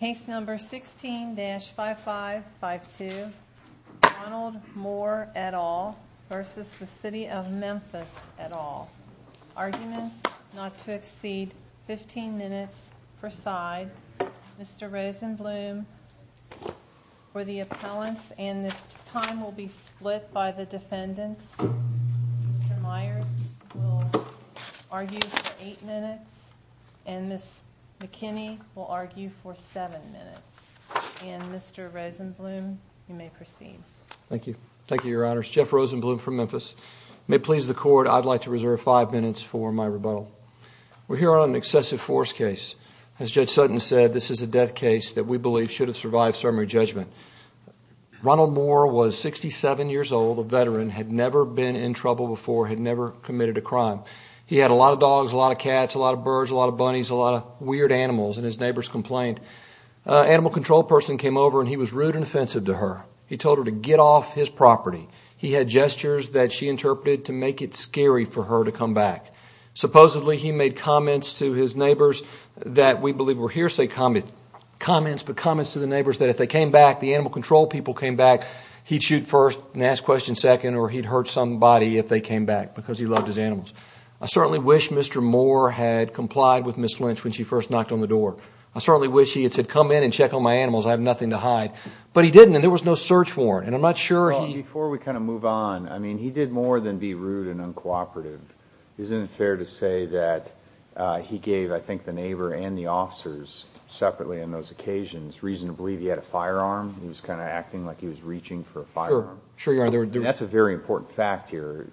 Case number 16-5552, Ronald Moore et al. v. City of Memphis et al. Arguments not to exceed 15 minutes per side. Mr. Rosenblum for the appellants and the time will be split by the defendants. Mr. Myers will argue for 8 minutes and Ms. McKinney will argue for 7 minutes. And Mr. Rosenblum, you may proceed. Thank you. Thank you, your honors. Jeff Rosenblum from Memphis. May it please the court, I'd like to reserve 5 minutes for my rebuttal. We're here on an excessive force case. As Judge Sutton said, this is a death case that we believe should have survived summary judgment. Ronald Moore was 67 years old, a veteran, had never been in trouble before, had never committed a crime. He had a lot of dogs, a lot of cats, a lot of birds, a lot of bunnies, a lot of weird animals and his neighbors complained. An animal control person came over and he was rude and offensive to her. He told her to get off his property. He had gestures that she interpreted to make it scary for her to come back. Supposedly he made comments to his neighbors that we believe were hearsay comments, but comments to the neighbors that if they came back, the animal control people came back, he'd shoot first and ask questions second or he'd hurt somebody if they came back because he loved his animals. I certainly wish Mr. Moore had complied with Ms. Lynch when she first knocked on the door. I certainly wish he had said, come in and check on my animals, I have nothing to hide. But he didn't and there was no search warrant and I'm not sure he... Before we kind of move on, I mean, he did more than be rude and uncooperative. Isn't it fair to say that he gave, I think, the neighbor and the officers, separately on those occasions, reason to believe he had a firearm? He was kind of acting like he was reaching for a firearm. That's a very important fact here.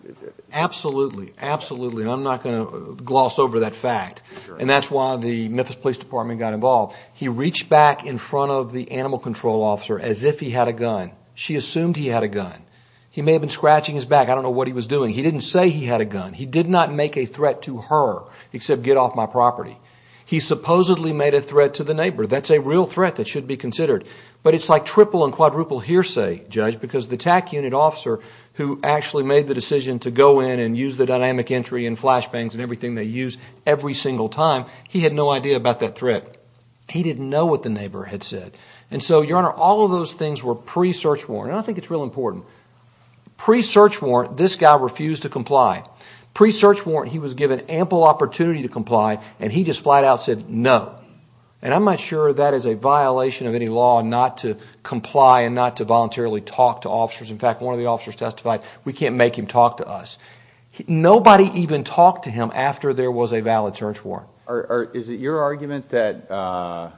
Absolutely, absolutely. I'm not going to gloss over that fact and that's why the Memphis Police Department got involved. He reached back in front of the animal control officer as if he had a gun. She assumed he had a gun. He may have been scratching his back, I don't know what he was doing. He didn't say he had a gun. He did not make a threat to her except get off my property. He supposedly made a threat to the neighbor. That's a real threat that should be considered. But it's like triple and quadruple hearsay, Judge, because the TAC unit officer who actually made the decision to go in and use the dynamic entry and flashbangs and everything they use every single time, he had no idea about that threat. He didn't know what the neighbor had said. And so, Your Honor, all of those things were pre-search warrant. And I think it's real important. Pre-search warrant, this guy refused to comply. Pre-search warrant, he was given ample opportunity to comply and he just flat out said no. And I'm not sure that is a violation of any law not to comply and not to voluntarily talk to officers. In fact, one of the officers testified, we can't make him talk to us. Nobody even talked to him after there was a valid search warrant. Is it your argument that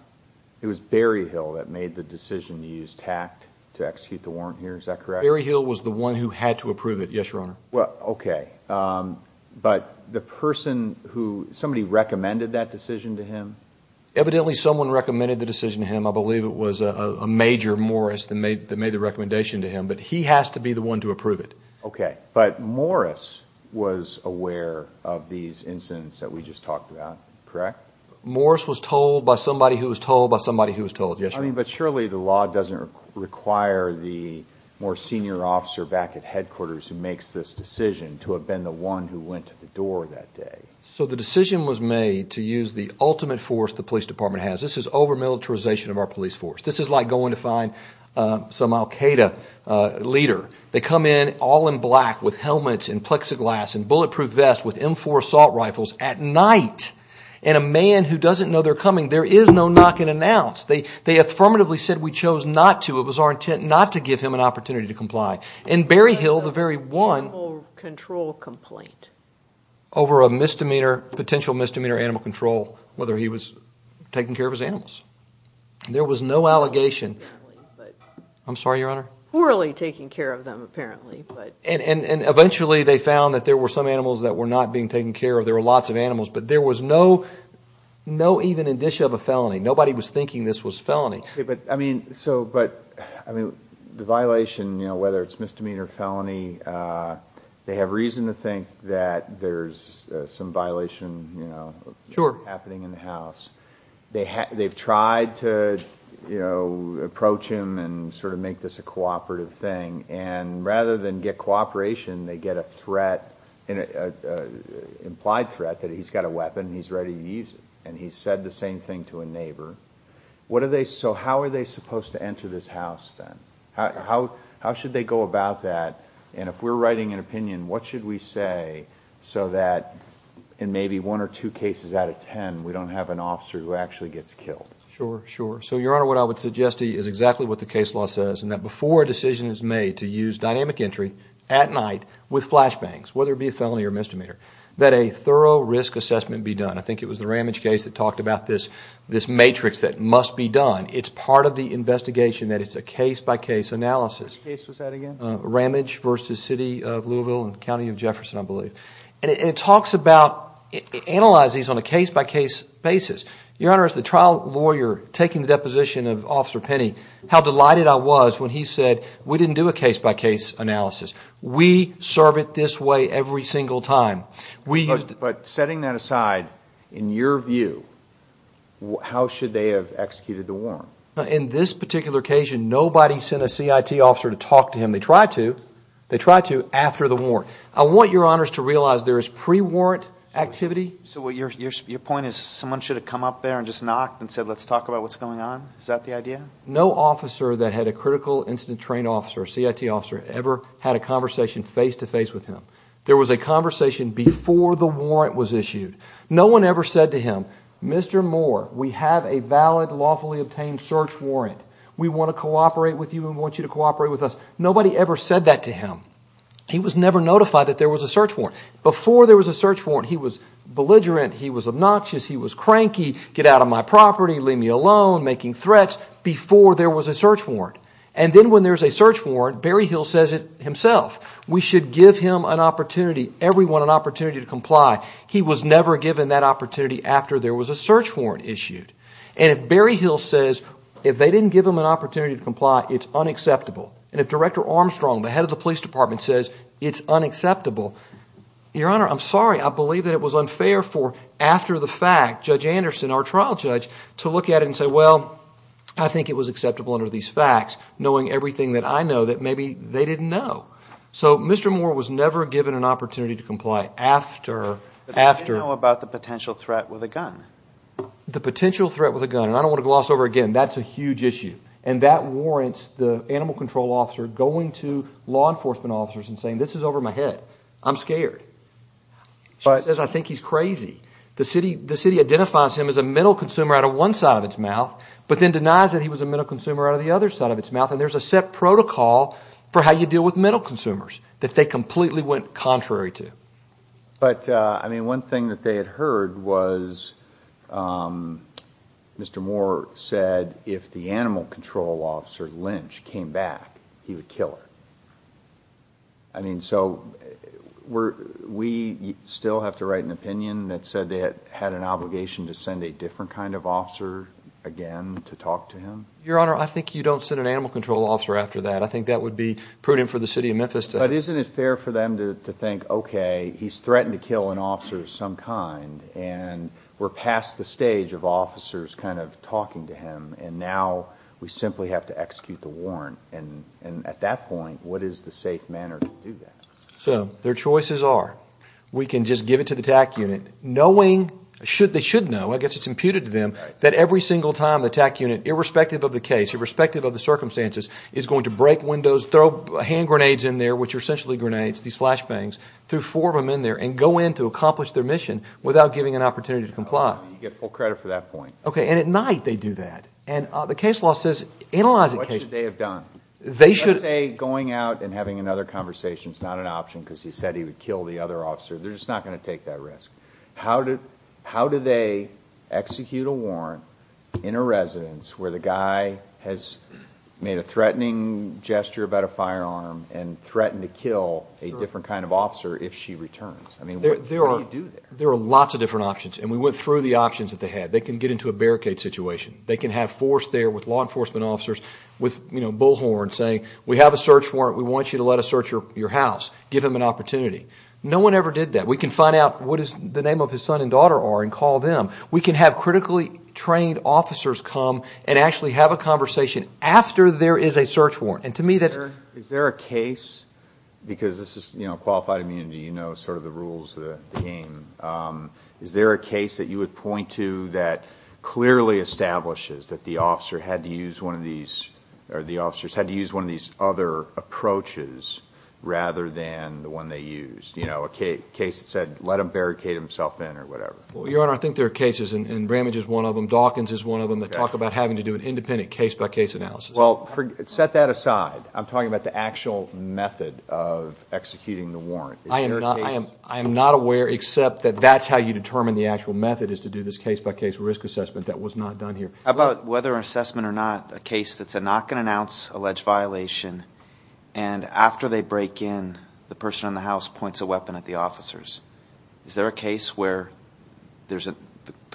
it was Barry Hill that made the decision to use TAC to execute the warrant here, is that correct? Barry Hill was the one who had to approve it, yes, Your Honor. Well, okay. But the person who, somebody recommended that decision to him? Evidently someone recommended the decision to him. I believe it was a major, Morris, that made the recommendation to him. But he has to be the one to approve it. Okay. But Morris was aware of these incidents that we just talked about, correct? Morris was told by somebody who was told by somebody who was told, yes, Your Honor. But surely the law doesn't require the more senior officer back at headquarters who makes this decision to have been the one who went to the door that day. So the decision was made to use the ultimate force the police department has. This is over-militarization of our police force. This is like going to find some al-Qaeda leader. They come in all in black with helmets and plexiglass and bulletproof vests with M4 assault rifles at night. And a man who doesn't know they're coming, there is no knock and announce. They affirmatively said we chose not to. It was our intent not to give him an opportunity to comply. And Barry Hill, the very one. Animal control complaint. Over a misdemeanor, potential misdemeanor animal control, whether he was taking care of his animals. There was no allegation. I'm sorry, Your Honor. Poorly taking care of them apparently. And eventually they found that there were some animals that were not being taken care of. There were lots of animals. But there was no even indicia of a felony. Nobody was thinking this was felony. But the violation, whether it's misdemeanor or felony, they have reason to think that there's some violation happening in the house. They've tried to approach him and sort of make this a cooperative thing. And rather than get cooperation, they get an implied threat that he's got a weapon and he's ready to use it. And he's said the same thing to a neighbor. So how are they supposed to enter this house then? How should they go about that? And if we're writing an opinion, what should we say so that in maybe one or two cases out of ten, we don't have an officer who actually gets killed? Sure, sure. So, Your Honor, what I would suggest is exactly what the case law says, and that before a decision is made to use dynamic entry at night with flashbangs, whether it be a felony or misdemeanor, that a thorough risk assessment be done. I think it was the Ramage case that talked about this matrix that must be done. It's part of the investigation that it's a case-by-case analysis. What case was that again? Ramage v. City of Louisville and County of Jefferson, I believe. And it talks about analyzing these on a case-by-case basis. Your Honor, as the trial lawyer taking the deposition of Officer Penny, how delighted I was when he said we didn't do a case-by-case analysis. We serve it this way every single time. But setting that aside, in your view, how should they have executed the warrant? In this particular occasion, nobody sent a CIT officer to talk to him. They tried to. They tried to after the warrant. I want Your Honors to realize there is pre-warrant activity. So your point is someone should have come up there and just knocked and said let's talk about what's going on? Is that the idea? No officer that had a critical incident trained officer, a CIT officer, ever had a conversation face-to-face with him. There was a conversation before the warrant was issued. No one ever said to him, Mr. Moore, we have a valid lawfully obtained search warrant. We want to cooperate with you and want you to cooperate with us. Nobody ever said that to him. He was never notified that there was a search warrant. Before there was a search warrant, he was belligerent, he was obnoxious, he was cranky, get out of my property, leave me alone, making threats, before there was a search warrant. And then when there's a search warrant, Barry Hill says it himself. We should give him an opportunity, everyone an opportunity to comply. He was never given that opportunity after there was a search warrant issued. And if Barry Hill says if they didn't give him an opportunity to comply, it's unacceptable. And if Director Armstrong, the head of the police department, says it's unacceptable, Your Honor, I'm sorry. I believe that it was unfair for after the fact, Judge Anderson, our trial judge, to look at it and say, well, I think it was acceptable under these facts, knowing everything that I know that maybe they didn't know. So Mr. Moore was never given an opportunity to comply after. But they didn't know about the potential threat with a gun. The potential threat with a gun, and I don't want to gloss over it again, that's a huge issue. And that warrants the animal control officer going to law enforcement officers and saying this is over my head, I'm scared. She says I think he's crazy. The city identifies him as a mental consumer out of one side of its mouth, but then denies that he was a mental consumer out of the other side of its mouth. And there's a set protocol for how you deal with mental consumers that they completely went contrary to. But, I mean, one thing that they had heard was Mr. Moore said if the animal control officer, Lynch, came back, he would kill her. I mean, so we still have to write an opinion that said they had an obligation to send a different kind of officer again to talk to him? Your Honor, I think you don't send an animal control officer after that. I think that would be prudent for the city of Memphis to have. But isn't it fair for them to think, okay, he's threatened to kill an officer of some kind, and we're past the stage of officers kind of talking to him, and now we simply have to execute the warrant. And at that point, what is the safe manner to do that? So their choices are we can just give it to the TAC unit, knowing, they should know, I guess it's imputed to them, that every single time the TAC unit, irrespective of the case, irrespective of the circumstances, is going to break windows, throw hand grenades in there, which are essentially grenades, these flashbangs, throw four of them in there and go in to accomplish their mission without giving an opportunity to comply. You get full credit for that point. Okay. And at night they do that. And the case law says analyze the case. What should they have done? They should have. Let's say going out and having another conversation is not an option because he said he would kill the other officer. They're just not going to take that risk. How do they execute a warrant in a residence where the guy has made a threatening gesture about a firearm and threatened to kill a different kind of officer if she returns? I mean, what do you do there? There are lots of different options, and we went through the options that they had. They can get into a barricade situation. They can have force there with law enforcement officers, with Bullhorn saying, we have a search warrant. We want you to let us search your house. Give him an opportunity. No one ever did that. We can find out what the name of his son and daughter are and call them. We can have critically trained officers come and actually have a conversation after there is a search warrant. Is there a case, because this is qualified immunity, you know sort of the rules of the game. Is there a case that you would point to that clearly establishes that the officer had to use one of these, or the officers had to use one of these other approaches rather than the one they used? You know, a case that said let him barricade himself in or whatever. Your Honor, I think there are cases, and Bramage is one of them, Dawkins is one of them, that talk about having to do an independent case-by-case analysis. Well, set that aside. I'm talking about the actual method of executing the warrant. Is there a case? I am not aware except that that's how you determine the actual method is to do this case-by-case risk assessment. That was not done here. How about whether an assessment or not, a case that's not going to announce alleged violation and after they break in, the person in the house points a weapon at the officers. Is there a case where the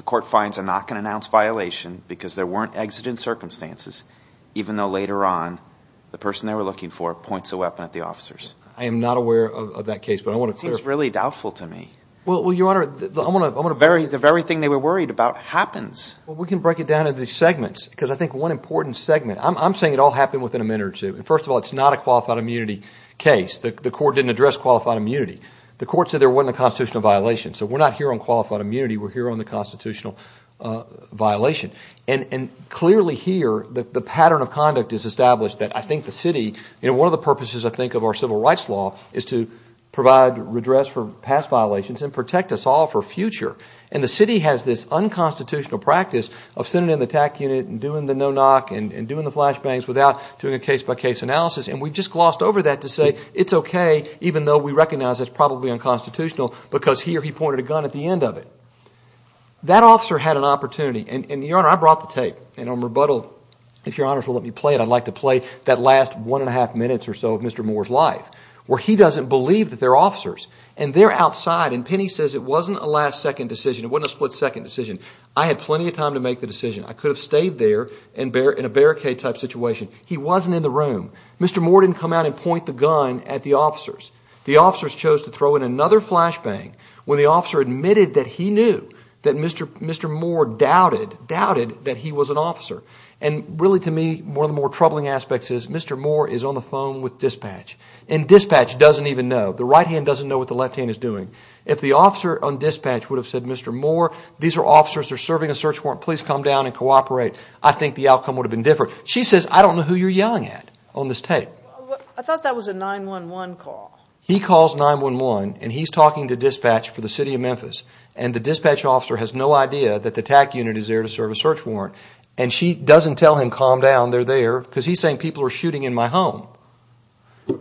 court finds a not-going-to-announce violation because there weren't exigent circumstances, even though later on the person they were looking for points a weapon at the officers? I am not aware of that case, but I want to clarify. It seems really doubtful to me. Well, Your Honor, the very thing they were worried about happens. Well, we can break it down into segments, because I think one important segment, I'm saying it all happened within a minute or two. First of all, it's not a qualified immunity case. The court didn't address qualified immunity. The court said there wasn't a constitutional violation. So we're not here on qualified immunity. We're here on the constitutional violation. And clearly here, the pattern of conduct is established that I think the city, and one of the purposes, I think, of our civil rights law is to provide redress for past violations and protect us all for future. And the city has this unconstitutional practice of sending in the TAC unit and doing the no-knock and doing the flashbangs without doing a case-by-case analysis. And we've just glossed over that to say it's okay, even though we recognize it's probably unconstitutional, because here he pointed a gun at the end of it. That officer had an opportunity. And, Your Honor, I brought the tape, and I'm rebuttal. If Your Honors will let me play it, I'd like to play that last one and a half minutes or so of Mr. Moore's life, where he doesn't believe that they're officers. And they're outside, and Penny says it wasn't a last-second decision. It wasn't a split-second decision. I had plenty of time to make the decision. I could have stayed there in a barricade-type situation. He wasn't in the room. Mr. Moore didn't come out and point the gun at the officers. The officers chose to throw in another flashbang when the officer admitted that he knew, that Mr. Moore doubted, doubted that he was an officer. And really, to me, one of the more troubling aspects is Mr. Moore is on the phone with dispatch, and dispatch doesn't even know. The right hand doesn't know what the left hand is doing. If the officer on dispatch would have said, Mr. Moore, these are officers. They're serving a search warrant. Please come down and cooperate. I think the outcome would have been different. She says, I don't know who you're yelling at on this tape. I thought that was a 911 call. He calls 911, and he's talking to dispatch for the city of Memphis, and the dispatch officer has no idea that the TAC unit is there to serve a search warrant. And she doesn't tell him, calm down, they're there, because he's saying, people are shooting in my home.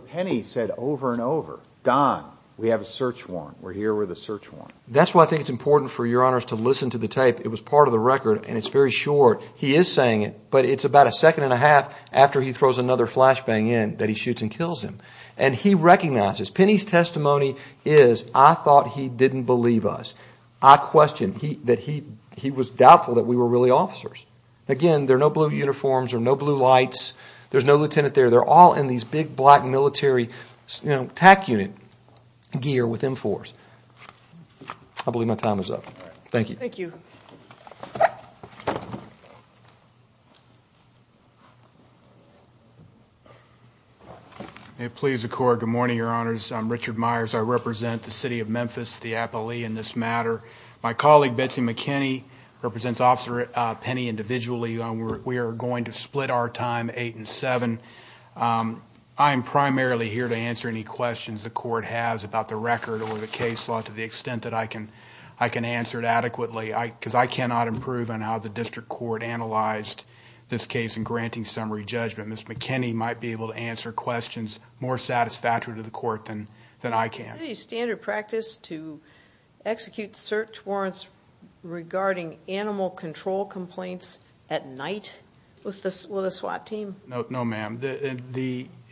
Penny said over and over, Don, we have a search warrant. We're here with a search warrant. That's why I think it's important for your honors to listen to the tape. It was part of the record, and it's very short. He is saying it, but it's about a second and a half after he throws another flashbang in that he shoots and kills him. And he recognizes, Penny's testimony is, I thought he didn't believe us. I questioned that he was doubtful that we were really officers. Again, there are no blue uniforms or no blue lights. There's no lieutenant there. They're all in these big black military TAC unit gear with M4s. I believe my time is up. Thank you. Thank you. May it please the Court, good morning, your honors. I'm Richard Myers. I represent the city of Memphis, the appellee in this matter. My colleague, Betsy McKinney, represents Officer Penny individually. We are going to split our time eight and seven. I am primarily here to answer any questions the court has about the record or the case law to the extent that I can answer it adequately, because I cannot improve on how the district court analyzed this case in granting summary judgment. Ms. McKinney might be able to answer questions more satisfactory to the court than I can. Is it a standard practice to execute search warrants regarding animal control complaints at night with a SWAT team? No, ma'am.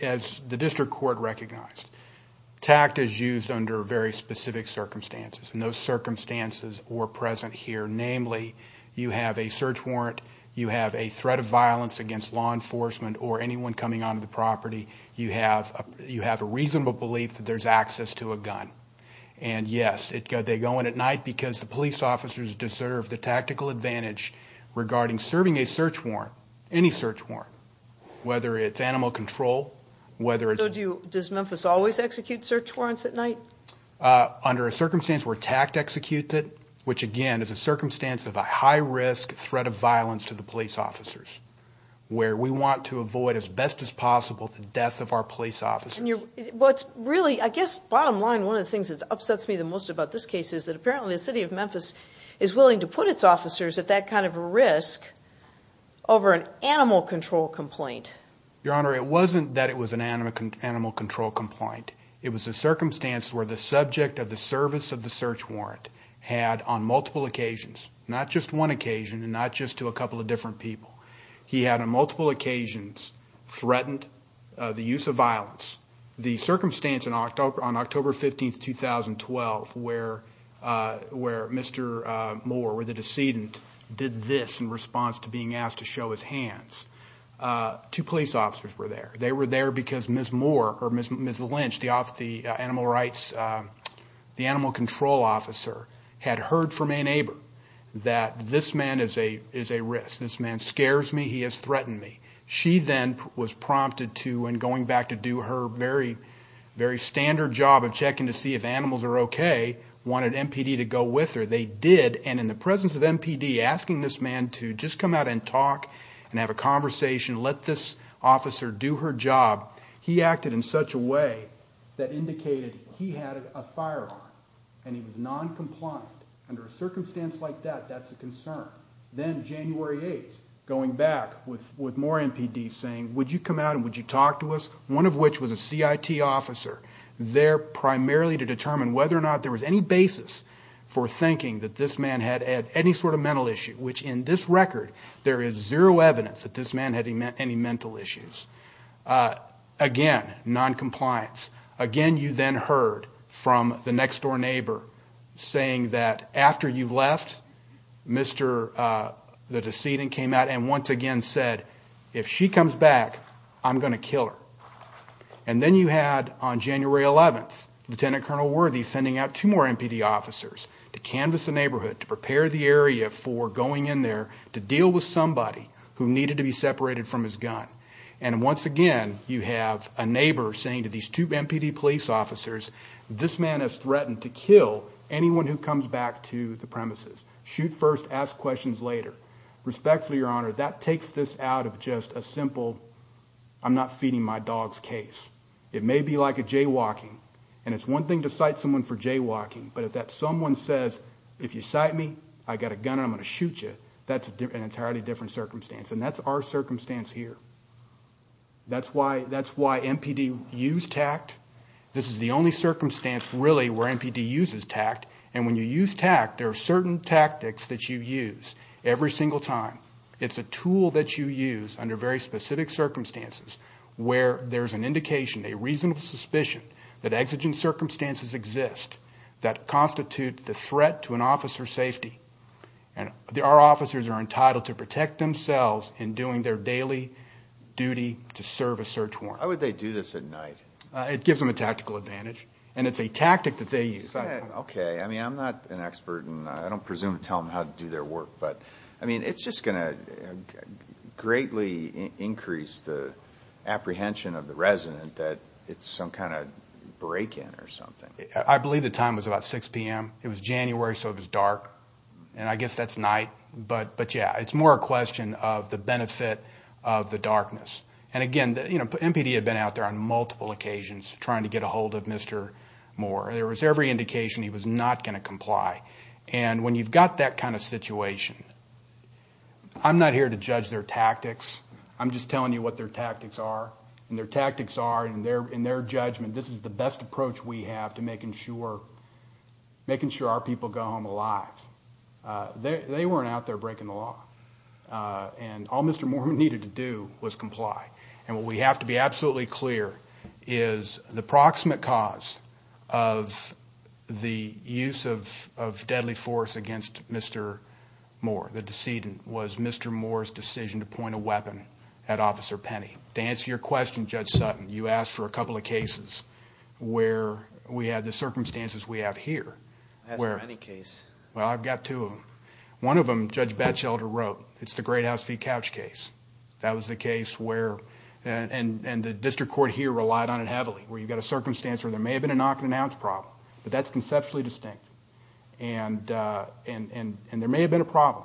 As the district court recognized, TACT is used under very specific circumstances. And those circumstances were present here. Namely, you have a search warrant, you have a threat of violence against law enforcement or anyone coming onto the property. You have a reasonable belief that there's access to a gun. And, yes, they go in at night because the police officers deserve the tactical advantage regarding serving a search warrant, any search warrant, whether it's animal control. So does Memphis always execute search warrants at night? Under a circumstance where TACT executes it, which, again, is a circumstance of a high-risk threat of violence to the police officers, where we want to avoid as best as possible the death of our police officers. Really, I guess bottom line, one of the things that upsets me the most about this case is that apparently the city of Memphis is willing to put its officers at that kind of a risk over an animal control complaint. Your Honor, it wasn't that it was an animal control complaint. It was a circumstance where the subject of the service of the search warrant had on multiple occasions, not just one occasion and not just to a couple of different people, he had on multiple occasions threatened the use of violence. The circumstance on October 15, 2012, where Mr. Moore, the decedent, did this in response to being asked to show his hands, two police officers were there. They were there because Ms. Moore or Ms. Lynch, the animal rights, the animal control officer, had heard from a neighbor that this man is a risk, this man scares me, he has threatened me. She then was prompted to, in going back to do her very standard job of checking to see if animals are okay, wanted MPD to go with her. They did, and in the presence of MPD, asking this man to just come out and talk and have a conversation, let this officer do her job. He acted in such a way that indicated he had a firearm and he was noncompliant. Under a circumstance like that, that's a concern. Then January 8, going back with more MPD saying, would you come out and would you talk to us, one of which was a CIT officer, there primarily to determine whether or not there was any basis for thinking that this man had any sort of mental issue, which in this record, there is zero evidence that this man had any mental issues. Again, noncompliance. Again, you then heard from the next door neighbor saying that after you left, the decedent came out and once again said, if she comes back, I'm going to kill her. Then you had on January 11, Lieutenant Colonel Worthy sending out two more MPD officers to canvas the neighborhood, to prepare the area for going in there to deal with somebody who needed to be separated from his gun. Once again, you have a neighbor saying to these two MPD police officers, this man has threatened to kill anyone who comes back to the premises. Shoot first, ask questions later. Respectfully, Your Honor, that takes this out of just a simple, I'm not feeding my dog's case. It may be like a jaywalking, and it's one thing to cite someone for jaywalking, but if that someone says, if you cite me, I've got a gun and I'm going to shoot you, that's an entirely different circumstance, and that's our circumstance here. That's why MPD use TACT. This is the only circumstance really where MPD uses TACT, and when you use TACT, there are certain tactics that you use every single time. It's a tool that you use under very specific circumstances where there's an indication, a reasonable suspicion that exigent circumstances exist that constitute the threat to an officer's safety. Our officers are entitled to protect themselves in doing their daily duty to serve a search warrant. Why would they do this at night? It gives them a tactical advantage, and it's a tactic that they use. Okay. I mean, I'm not an expert, and I don't presume to tell them how to do their work, but, I mean, it's just going to greatly increase the apprehension of the resident that it's some kind of break-in or something. I believe the time was about 6 p.m. It was January, so it was dark, and I guess that's night, but, yeah, it's more a question of the benefit of the darkness. And, again, MPD had been out there on multiple occasions trying to get a hold of Mr. Moore. There was every indication he was not going to comply, and when you've got that kind of situation, I'm not here to judge their tactics. I'm just telling you what their tactics are, and their tactics are, and in their judgment, this is the best approach we have to making sure our people go home alive. They weren't out there breaking the law, and all Mr. Moore needed to do was comply. And what we have to be absolutely clear is the proximate cause of the use of deadly force against Mr. Moore, the decedent, was Mr. Moore's decision to point a weapon at Officer Penny. To answer your question, Judge Sutton, you asked for a couple of cases where we had the circumstances we have here. Asked for any case. Well, I've got two of them. One of them Judge Batchelder wrote. It's the Great House v. Couch case. That was the case where, and the district court here relied on it heavily, where you've got a circumstance where there may have been a knock-and-announce problem, but that's conceptually distinct, and there may have been a problem,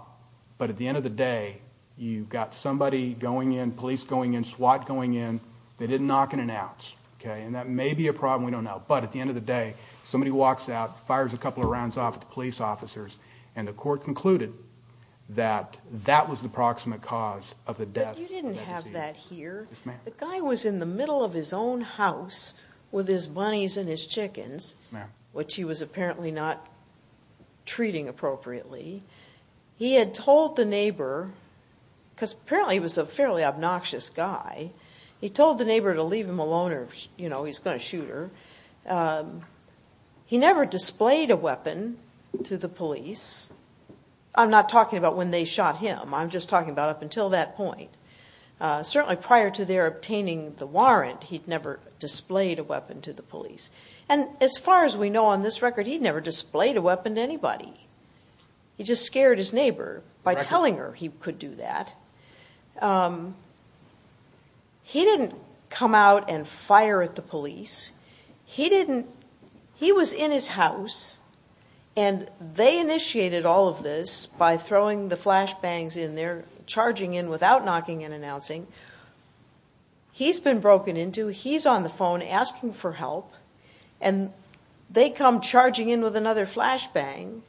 but at the end of the day, you've got somebody going in, police going in, SWAT going in, they didn't knock-and-announce. And that may be a problem, we don't know. But at the end of the day, somebody walks out, fires a couple of rounds off at the police officers, and the court concluded that that was the proximate cause of the death. But you didn't have that here. The guy was in the middle of his own house with his bunnies and his chickens, which he was apparently not treating appropriately. He had told the neighbor, because apparently he was a fairly obnoxious guy, he told the neighbor to leave him alone or, you know, he's going to shoot her. He never displayed a weapon to the police. I'm not talking about when they shot him. I'm just talking about up until that point. Certainly prior to their obtaining the warrant, he'd never displayed a weapon to the police. And as far as we know on this record, he'd never displayed a weapon to anybody. He just scared his neighbor by telling her he could do that. He didn't come out and fire at the police. He was in his house, and they initiated all of this by throwing the flashbangs in there, charging in without knocking-and-announcing. He's been broken into. He's on the phone asking for help, and they come charging in with another flashbang.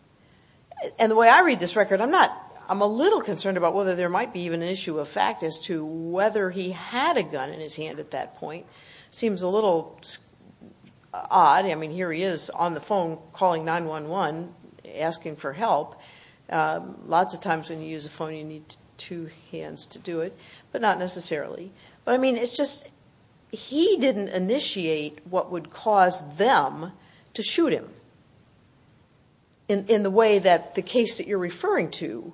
And the way I read this record, I'm a little concerned about whether there might be even an issue of fact as to whether he had a gun in his hand at that point. It seems a little odd. I mean, here he is on the phone calling 911, asking for help. Lots of times when you use a phone, you need two hands to do it, but not necessarily. But, I mean, it's just he didn't initiate what would cause them to shoot him in the way that the case that you're referring to,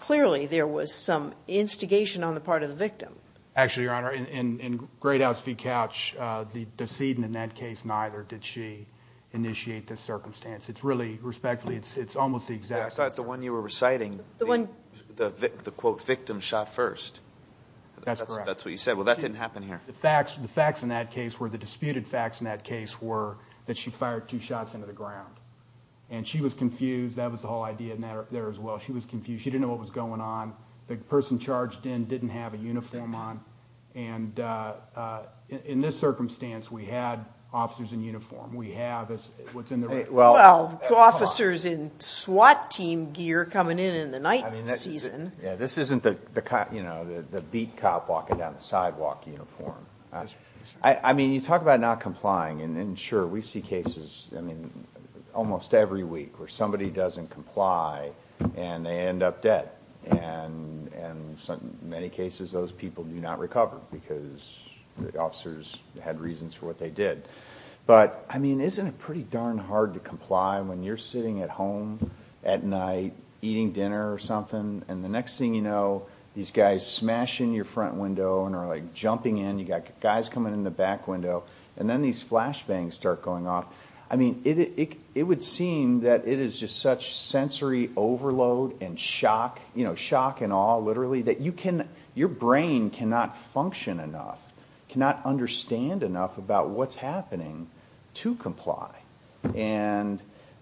clearly there was some instigation on the part of the victim. Actually, Your Honor, in Gradov's v. Couch, the decedent in that case, neither did she initiate the circumstance. It's really, respectfully, it's almost the exact same. I thought the one you were reciting, the quote, victim shot first. That's correct. That's what you said. Well, that didn't happen here. The facts in that case were, the disputed facts in that case were that she fired two shots into the ground. And she was confused. That was the whole idea there as well. She was confused. She didn't know what was going on. The person charged in didn't have a uniform on. And in this circumstance, we had officers in uniform. Well, officers in SWAT team gear coming in in the night season. Yeah, this isn't the beat cop walking down the sidewalk in uniform. I mean, you talk about not complying. And sure, we see cases almost every week where somebody doesn't comply and they end up dead. And in many cases, those people do not recover because the officers had reasons for what they did. But, I mean, isn't it pretty darn hard to comply when you're sitting at home at night eating dinner or something, and the next thing you know, these guys smash in your front window and are, like, jumping in. You've got guys coming in the back window. And then these flashbangs start going off. I mean, it would seem that it is just such sensory overload and shock, you know, shock and awe, literally, that your brain cannot function enough, cannot understand enough about what's happening to comply. And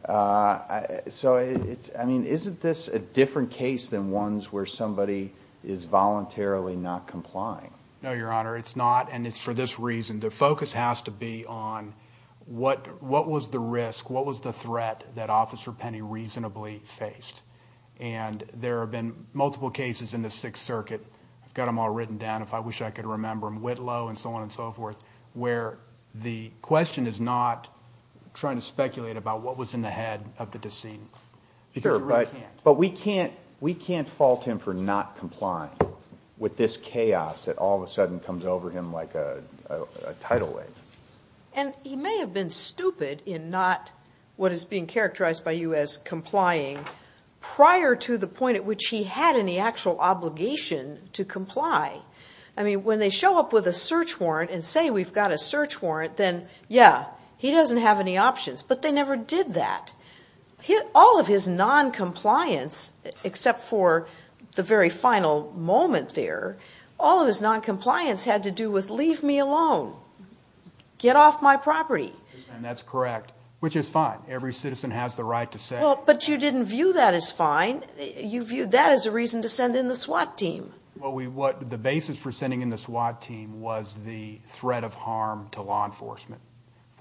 so, I mean, isn't this a different case than ones where somebody is voluntarily not complying? No, Your Honor, it's not, and it's for this reason. The focus has to be on what was the risk, what was the threat that Officer Penny reasonably faced. And there have been multiple cases in the Sixth Circuit, I've got them all written down, if I wish I could remember them, Whitlow and so on and so forth, where the question is not trying to speculate about what was in the head of the decedent. But we can't fault him for not complying with this chaos that all of a sudden comes over him like a tidal wave. And he may have been stupid in not what is being characterized by you as complying, prior to the point at which he had any actual obligation to comply. I mean, when they show up with a search warrant and say we've got a search warrant, then, yeah, he doesn't have any options. But they never did that. All of his noncompliance, except for the very final moment there, all of his noncompliance had to do with leave me alone, get off my property. And that's correct, which is fine. Every citizen has the right to say it. But you didn't view that as fine. You viewed that as a reason to send in the SWAT team. Well, the basis for sending in the SWAT team was the threat of harm to law enforcement.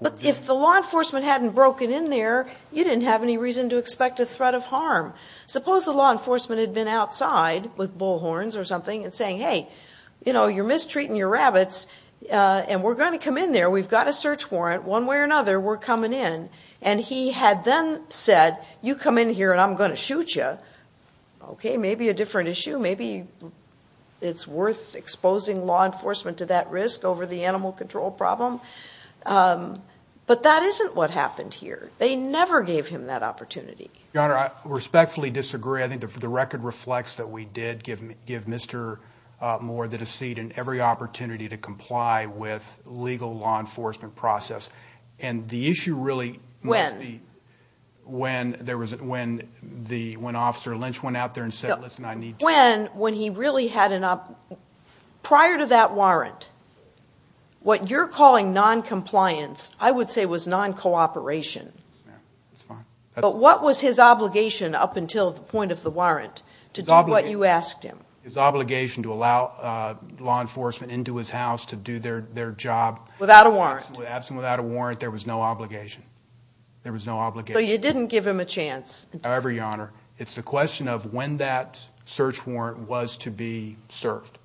But if the law enforcement hadn't broken in there, you didn't have any reason to expect a threat of harm. Suppose the law enforcement had been outside with bullhorns or something and saying, hey, you know, you're mistreating your rabbits, and we're going to come in there. We've got a search warrant. One way or another, we're coming in. And he had then said, you come in here and I'm going to shoot you. Okay, maybe a different issue. Maybe it's worth exposing law enforcement to that risk over the animal control problem. But that isn't what happened here. They never gave him that opportunity. Your Honor, I respectfully disagree. I think the record reflects that we did give Mr. Moore the deceit and every opportunity to comply with legal law enforcement process. And the issue really must be when there was a ‑‑ When? When Officer Lynch went out there and said, listen, I need to ‑‑ When, when he really had an ‑‑ prior to that warrant, what you're calling noncompliance, I would say was noncooperation. That's fine. But what was his obligation up until the point of the warrant to do what you asked him? His obligation to allow law enforcement into his house to do their job. Without a warrant. Absolutely. Without a warrant, there was no obligation. There was no obligation. So you didn't give him a chance. However, Your Honor, it's a question of when that search warrant was to be served.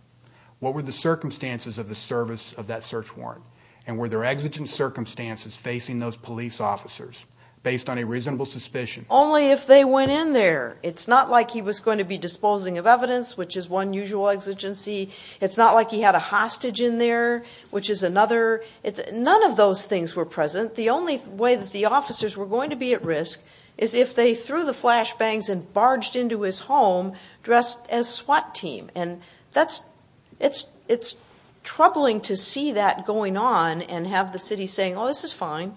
What were the circumstances of the service of that search warrant? And were there exigent circumstances facing those police officers based on a reasonable suspicion? Only if they went in there. It's not like he was going to be disposing of evidence, which is one usual exigency. It's not like he had a hostage in there, which is another. None of those things were present. The only way that the officers were going to be at risk is if they threw the flashbangs and barged into his home dressed as SWAT team. And that's ‑‑ it's troubling to see that going on and have the city saying, oh, this is fine.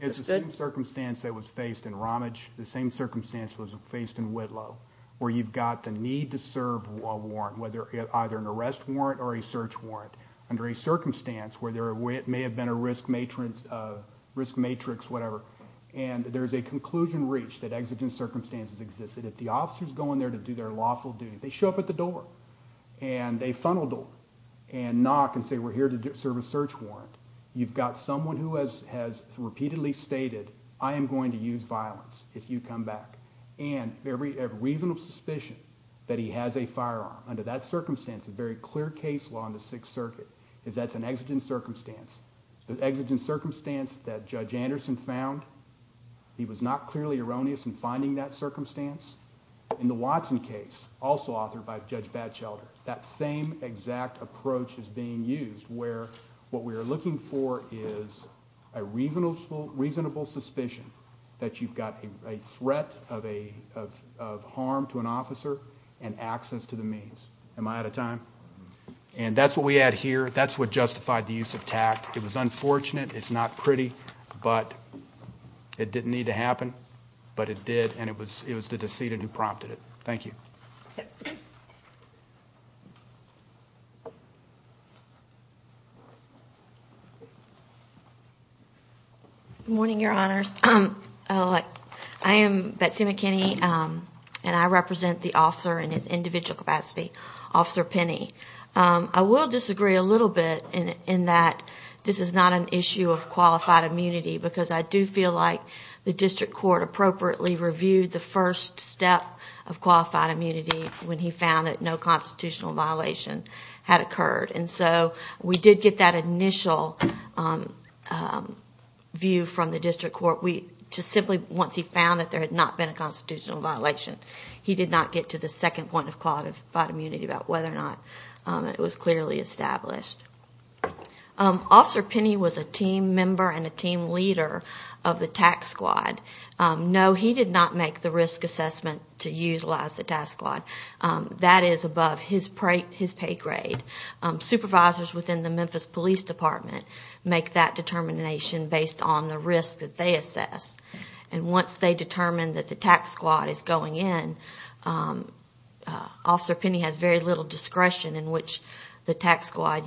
It's the same circumstance that was faced in Ramage. The same circumstance was faced in Whitlow where you've got the need to serve a warrant, either an arrest warrant or a search warrant, under a circumstance where there may have been a risk matrix, whatever. And there's a conclusion reached that exigent circumstances exist that if the officers go in there to do their lawful duty, they show up at the door and they funnel door and knock and say we're here to serve a search warrant. You've got someone who has repeatedly stated, I am going to use violence if you come back. And a reasonable suspicion that he has a firearm. Under that circumstance, a very clear case law in the Sixth Circuit, is that's an exigent circumstance. The exigent circumstance that Judge Anderson found, he was not clearly erroneous in finding that circumstance. In the Watson case, also authored by Judge Batchelder, that same exact approach is being used where what we are looking for is a reasonable suspicion that you've got a threat of harm to an officer and access to the means. Am I out of time? And that's what we add here, that's what justified the use of tact. It was unfortunate, it's not pretty, but it didn't need to happen, but it did and it was the decedent who prompted it. Thank you. Good morning, Your Honors. I am Betsy McKinney and I represent the officer in his individual capacity, Officer Penny. I will disagree a little bit in that this is not an issue of qualified immunity because I do feel like the District Court appropriately reviewed the first step of qualified immunity when he found that no constitutional violation had occurred. And so we did get that initial view from the District Court just simply once he found that there had not been a constitutional violation. He did not get to the second point of qualified immunity about whether or not it was clearly established. Officer Penny was a team member and a team leader of the tact squad. No, he did not make the risk assessment to utilize the tact squad. That is above his pay grade. Supervisors within the Memphis Police Department make that determination based on the risk that they assess. Once they determine that the tact squad is going in, Officer Penny has very little discretion in which the tact squad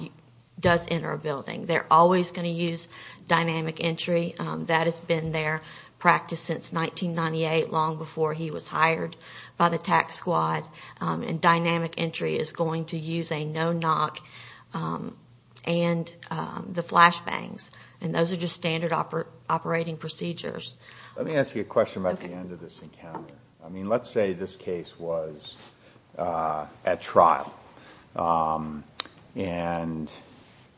does enter a building. They're always going to use dynamic entry. That has been their practice since 1998, long before he was hired by the tact squad. Dynamic entry is going to use a no-knock and the flashbangs. Those are just standard operating procedures. Let me ask you a question about the end of this encounter. Let's say this case was at trial.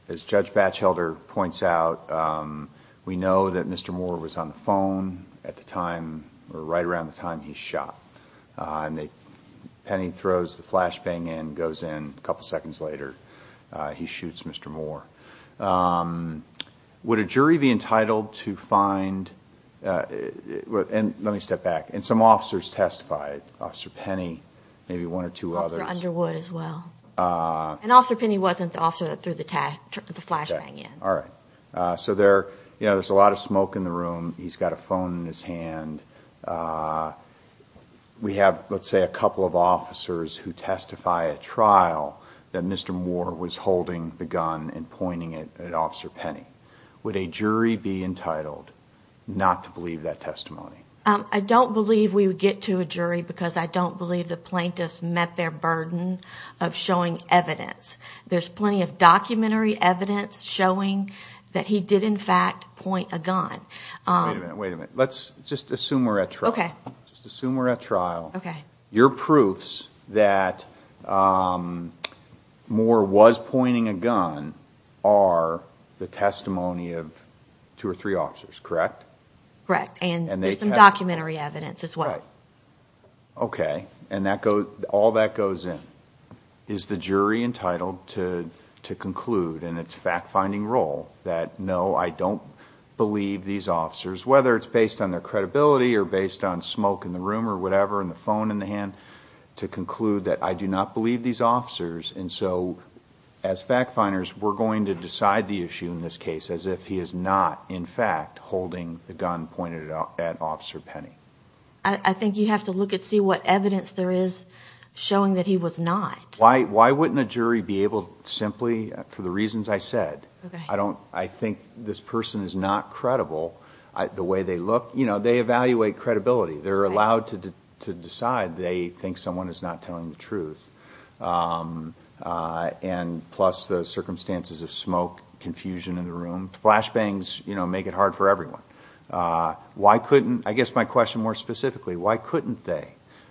As Judge Batchelder points out, we know that Mr. Moore was on the phone at the time or right around the time he was shot. Penny throws the flashbang in and goes in. A couple of seconds later, he shoots Mr. Moore. Would a jury be entitled to find... Let me step back. Some officers testified. Officer Penny, maybe one or two others. Officer Underwood as well. Officer Penny wasn't the officer that threw the flashbang in. There's a lot of smoke in the room. He's got a phone in his hand. We have, let's say, a couple of officers who testify at trial that Mr. Moore was holding the gun and pointing it at Officer Penny. Would a jury be entitled not to believe that testimony? I don't believe we would get to a jury because I don't believe the plaintiffs met their burden of showing evidence. There's plenty of documentary evidence showing that he did, in fact, point a gun. Wait a minute, wait a minute. Let's just assume we're at trial. Your proofs that Moore was pointing a gun are the testimony of two or three officers, correct? Correct, and there's some documentary evidence as well. Okay, and all that goes in. Is the jury entitled to conclude in its fact-finding role that no, I don't believe these officers, whether it's based on their credibility or based on smoke in the room or whatever and the phone in the hand, to conclude that I do not believe these officers? And so as fact-finders, we're going to decide the issue in this case as if he is not, in fact, holding the gun pointed at Officer Penny. I think you have to look and see what evidence there is showing that he was not. Why wouldn't a jury be able to simply, for the reasons I said, I think this person is not credible. The way they look, they evaluate credibility. They're allowed to decide they think someone is not telling the truth, plus the circumstances of smoke, confusion in the room. Flashbangs make it hard for everyone. I guess my question more specifically, why couldn't they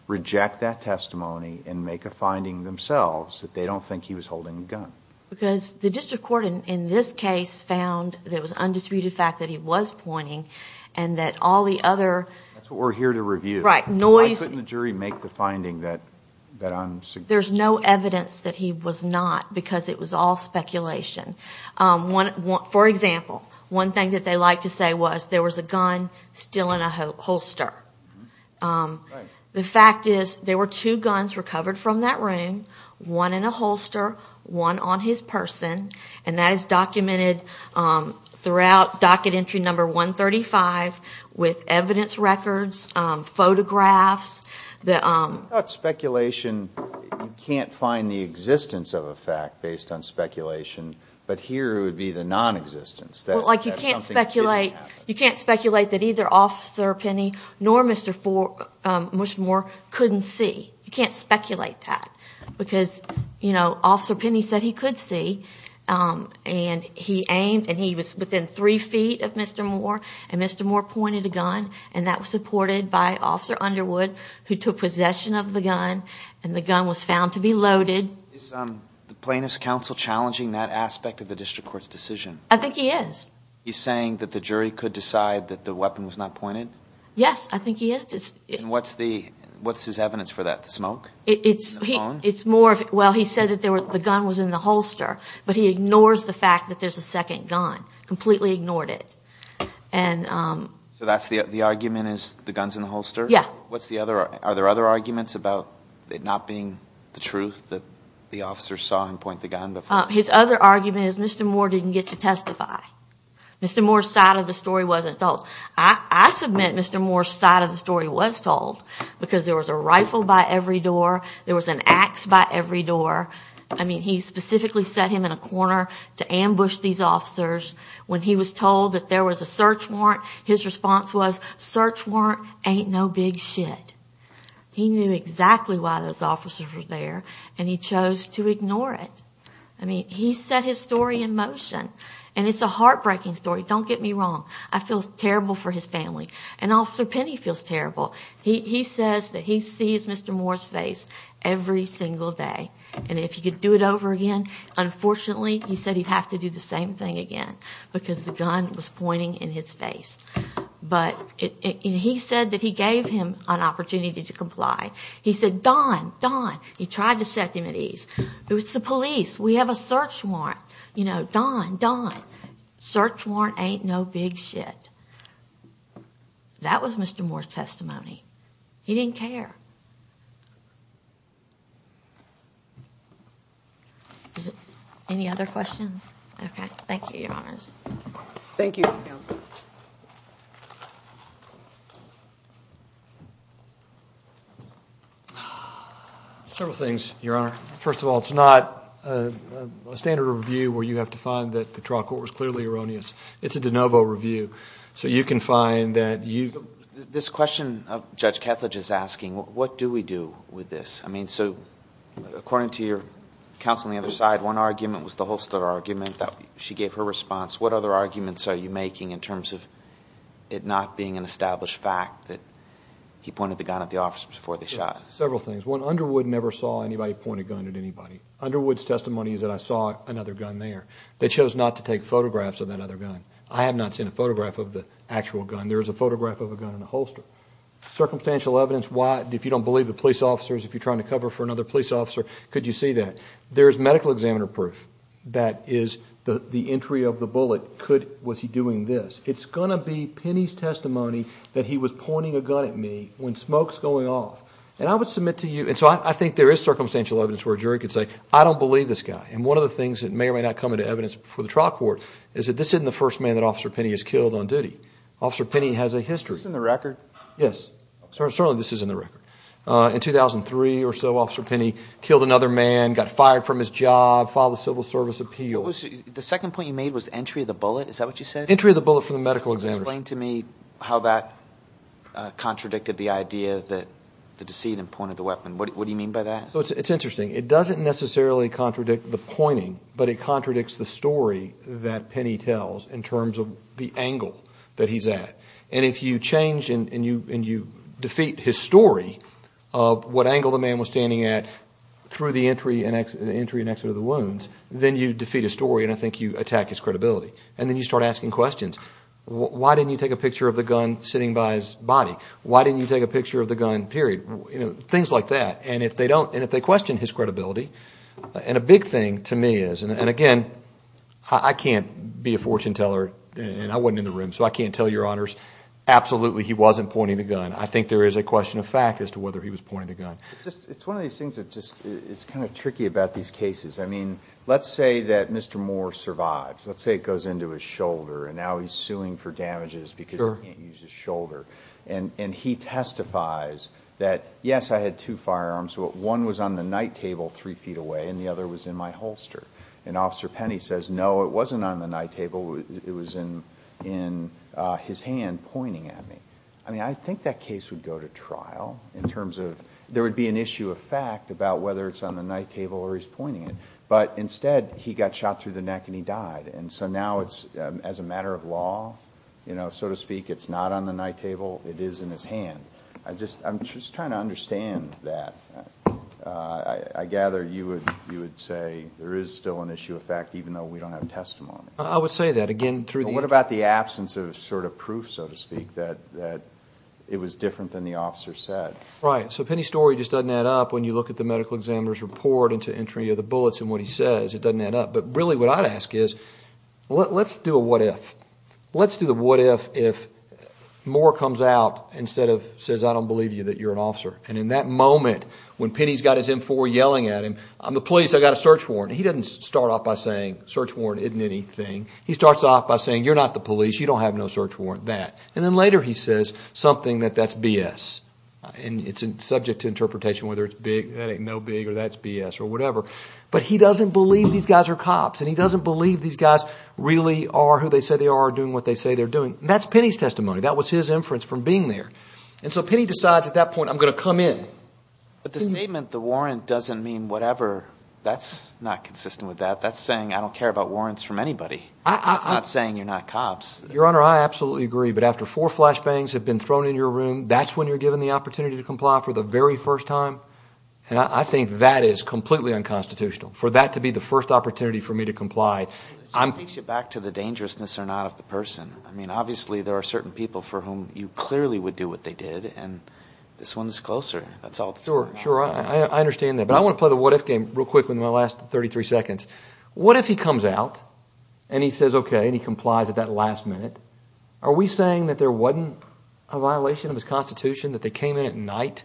reject that testimony and make a finding themselves that they don't think he was holding a gun? Because the district court in this case found there was undisputed fact that he was pointing and that all the other... That's what we're here to review. Right. Why couldn't the jury make the finding that I'm suggesting? There's no evidence that he was not because it was all speculation. For example, one thing that they like to say was that there was a gun still in a holster. The fact is there were two guns recovered from that room, one in a holster, one on his person, and that is documented throughout docket entry number 135 with evidence records, photographs. Without speculation, you can't find the existence of a fact based on speculation, but here it would be the nonexistence. You can't speculate that either Officer Penny nor Mr. Moore couldn't see. You can't speculate that because Officer Penny said he could see, and he aimed, and he was within three feet of Mr. Moore, and Mr. Moore pointed a gun, and that was supported by Officer Underwood who took possession of the gun, and the gun was found to be loaded. Is the plaintiff's counsel challenging that aspect of the district court's decision? I think he is. He's saying that the jury could decide that the weapon was not pointed? Yes, I think he is. And what's his evidence for that, the smoke? Well, he said that the gun was in the holster, but he ignores the fact that there's a second gun, completely ignored it. So the argument is the gun's in the holster? Yeah. Are there other arguments about it not being the truth that the officers saw him point the gun before? His other argument is Mr. Moore didn't get to testify. Mr. Moore's side of the story wasn't told. I submit Mr. Moore's side of the story was told because there was a rifle by every door, there was an ax by every door. I mean, he specifically set him in a corner to ambush these officers. When he was told that there was a search warrant, his response was, search warrant ain't no big shit. He knew exactly why those officers were there, and he chose to ignore it. I mean, he set his story in motion, and it's a heartbreaking story. Don't get me wrong. I feel terrible for his family, and Officer Penny feels terrible. He says that he sees Mr. Moore's face every single day, and if he could do it over again, unfortunately, he said he'd have to do the same thing again because the gun was pointing in his face. He said that he gave him an opportunity to comply. He said, Don, Don. He tried to set him at ease. It's the police. We have a search warrant. Don, Don. Search warrant ain't no big shit. That was Mr. Moore's testimony. He didn't care. Any other questions? Okay. Thank you, Your Honors. Thank you, Counsel. Several things, Your Honor. First of all, it's not a standard review where you have to find that the trial court was clearly erroneous. It's a de novo review. So you can find that you've – This question Judge Kethledge is asking, what do we do with this? I mean, so according to your counsel on the other side, one argument was the holster argument that she gave her response. What other arguments are you making in terms of it not being an established fact that he pointed the gun at the officer before they shot? Several things. One, Underwood never saw anybody point a gun at anybody. Underwood's testimony is that I saw another gun there. They chose not to take photographs of that other gun. I have not seen a photograph of the actual gun. There is a photograph of a gun in the holster. Circumstantial evidence, why? If you don't believe the police officers, if you're trying to cover for another police officer, could you see that? There is medical examiner proof that is the entry of the bullet. Was he doing this? It's going to be Penny's testimony that he was pointing a gun at me when smoke's going off. And I would submit to you – And so I think there is circumstantial evidence where a jury could say, I don't believe this guy. And one of the things that may or may not come into evidence before the trial court is that this isn't the first man that Officer Penny has killed on duty. Officer Penny has a history. Is this in the record? Yes. Certainly this is in the record. In 2003 or so, Officer Penny killed another man, got fired from his job, filed a civil service appeal. The second point you made was the entry of the bullet. Is that what you said? Entry of the bullet from the medical examiner. Explain to me how that contradicted the idea that the decedent pointed the weapon. What do you mean by that? It's interesting. It doesn't necessarily contradict the pointing, but it contradicts the story that Penny tells in terms of the angle that he's at. And if you change and you defeat his story of what angle the man was standing at through the entry and exit of the wounds, then you defeat his story and I think you attack his credibility. And then you start asking questions. Why didn't you take a picture of the gun sitting by his body? Why didn't you take a picture of the gun, period? Things like that. And if they question his credibility, and a big thing to me is, and again, I can't be a fortune teller and I wasn't in the room, so I can't tell your honors, absolutely he wasn't pointing the gun. I think there is a question of fact as to whether he was pointing the gun. It's one of these things that just is kind of tricky about these cases. I mean, let's say that Mr. Moore survives. Let's say it goes into his shoulder and now he's suing for damages because he can't use his shoulder. And he testifies that, yes, I had two firearms. One was on the night table three feet away and the other was in my holster. And Officer Penny says, no, it wasn't on the night table. It was in his hand pointing at me. I mean, I think that case would go to trial in terms of, there would be an issue of fact about whether it's on the night table or he's pointing it. But instead, he got shot through the neck and he died. And so now it's, as a matter of law, you know, so to speak, it's not on the night table. It is in his hand. I'm just trying to understand that. I gather you would say there is still an issue of fact even though we don't have testimony. I would say that. What about the absence of sort of proof, so to speak, that it was different than the officer said? Right. So Penny's story just doesn't add up when you look at the medical examiner's report and to entry of the bullets and what he says. It doesn't add up. But really what I'd ask is let's do a what if. Let's do the what if if Moore comes out instead of says I don't believe you that you're an officer. And in that moment when Penny's got his M4 yelling at him, I'm the police. I've got a search warrant. He doesn't start off by saying search warrant isn't anything. He starts off by saying you're not the police. You don't have no search warrant, that. And then later he says something that that's B.S. And it's subject to interpretation whether it's big, that ain't no big, or that's B.S. or whatever. But he doesn't believe these guys are cops. And he doesn't believe these guys really are who they say they are doing what they say they're doing. That's Penny's testimony. That was his inference from being there. And so Penny decides at that point I'm going to come in. But the statement the warrant doesn't mean whatever, that's not consistent with that. That's saying I don't care about warrants from anybody. That's not saying you're not cops. Your Honor, I absolutely agree. But after four flashbangs have been thrown in your room, that's when you're given the opportunity to comply for the very first time? And I think that is completely unconstitutional. For that to be the first opportunity for me to comply. It takes you back to the dangerousness or not of the person. I mean obviously there are certain people for whom you clearly would do what they did. And this one is closer. That's all. Sure. I understand that. But I want to play the what if game real quick in my last 33 seconds. What if he comes out and he says okay and he complies at that last minute? Are we saying that there wasn't a violation of his Constitution that they came in at night?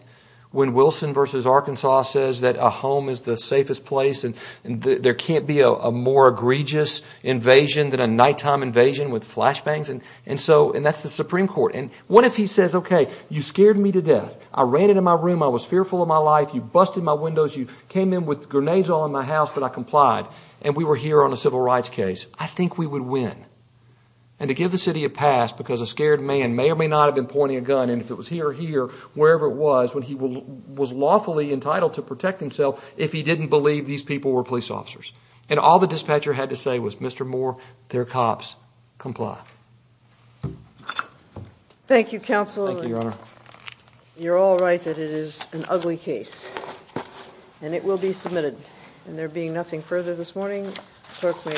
When Wilson v. Arkansas says that a home is the safest place and there can't be a more egregious invasion than a nighttime invasion with flashbangs? And so that's the Supreme Court. And what if he says okay, you scared me to death. I ran into my room. I was fearful of my life. You busted my windows. You came in with grenades all in my house but I complied. And we were here on a civil rights case. I think we would win. And to give the city a pass because a scared man may or may not have been pointing a gun and if it was here or here, wherever it was, when he was lawfully entitled to protect himself if he didn't believe these people were police officers. And all the dispatcher had to say was Mr. Moore, they're cops. Comply. Thank you, Counsel. Thank you, Your Honor. You're all right that it is an ugly case. And it will be submitted. And there being nothing further this morning, the clerk may adjourn.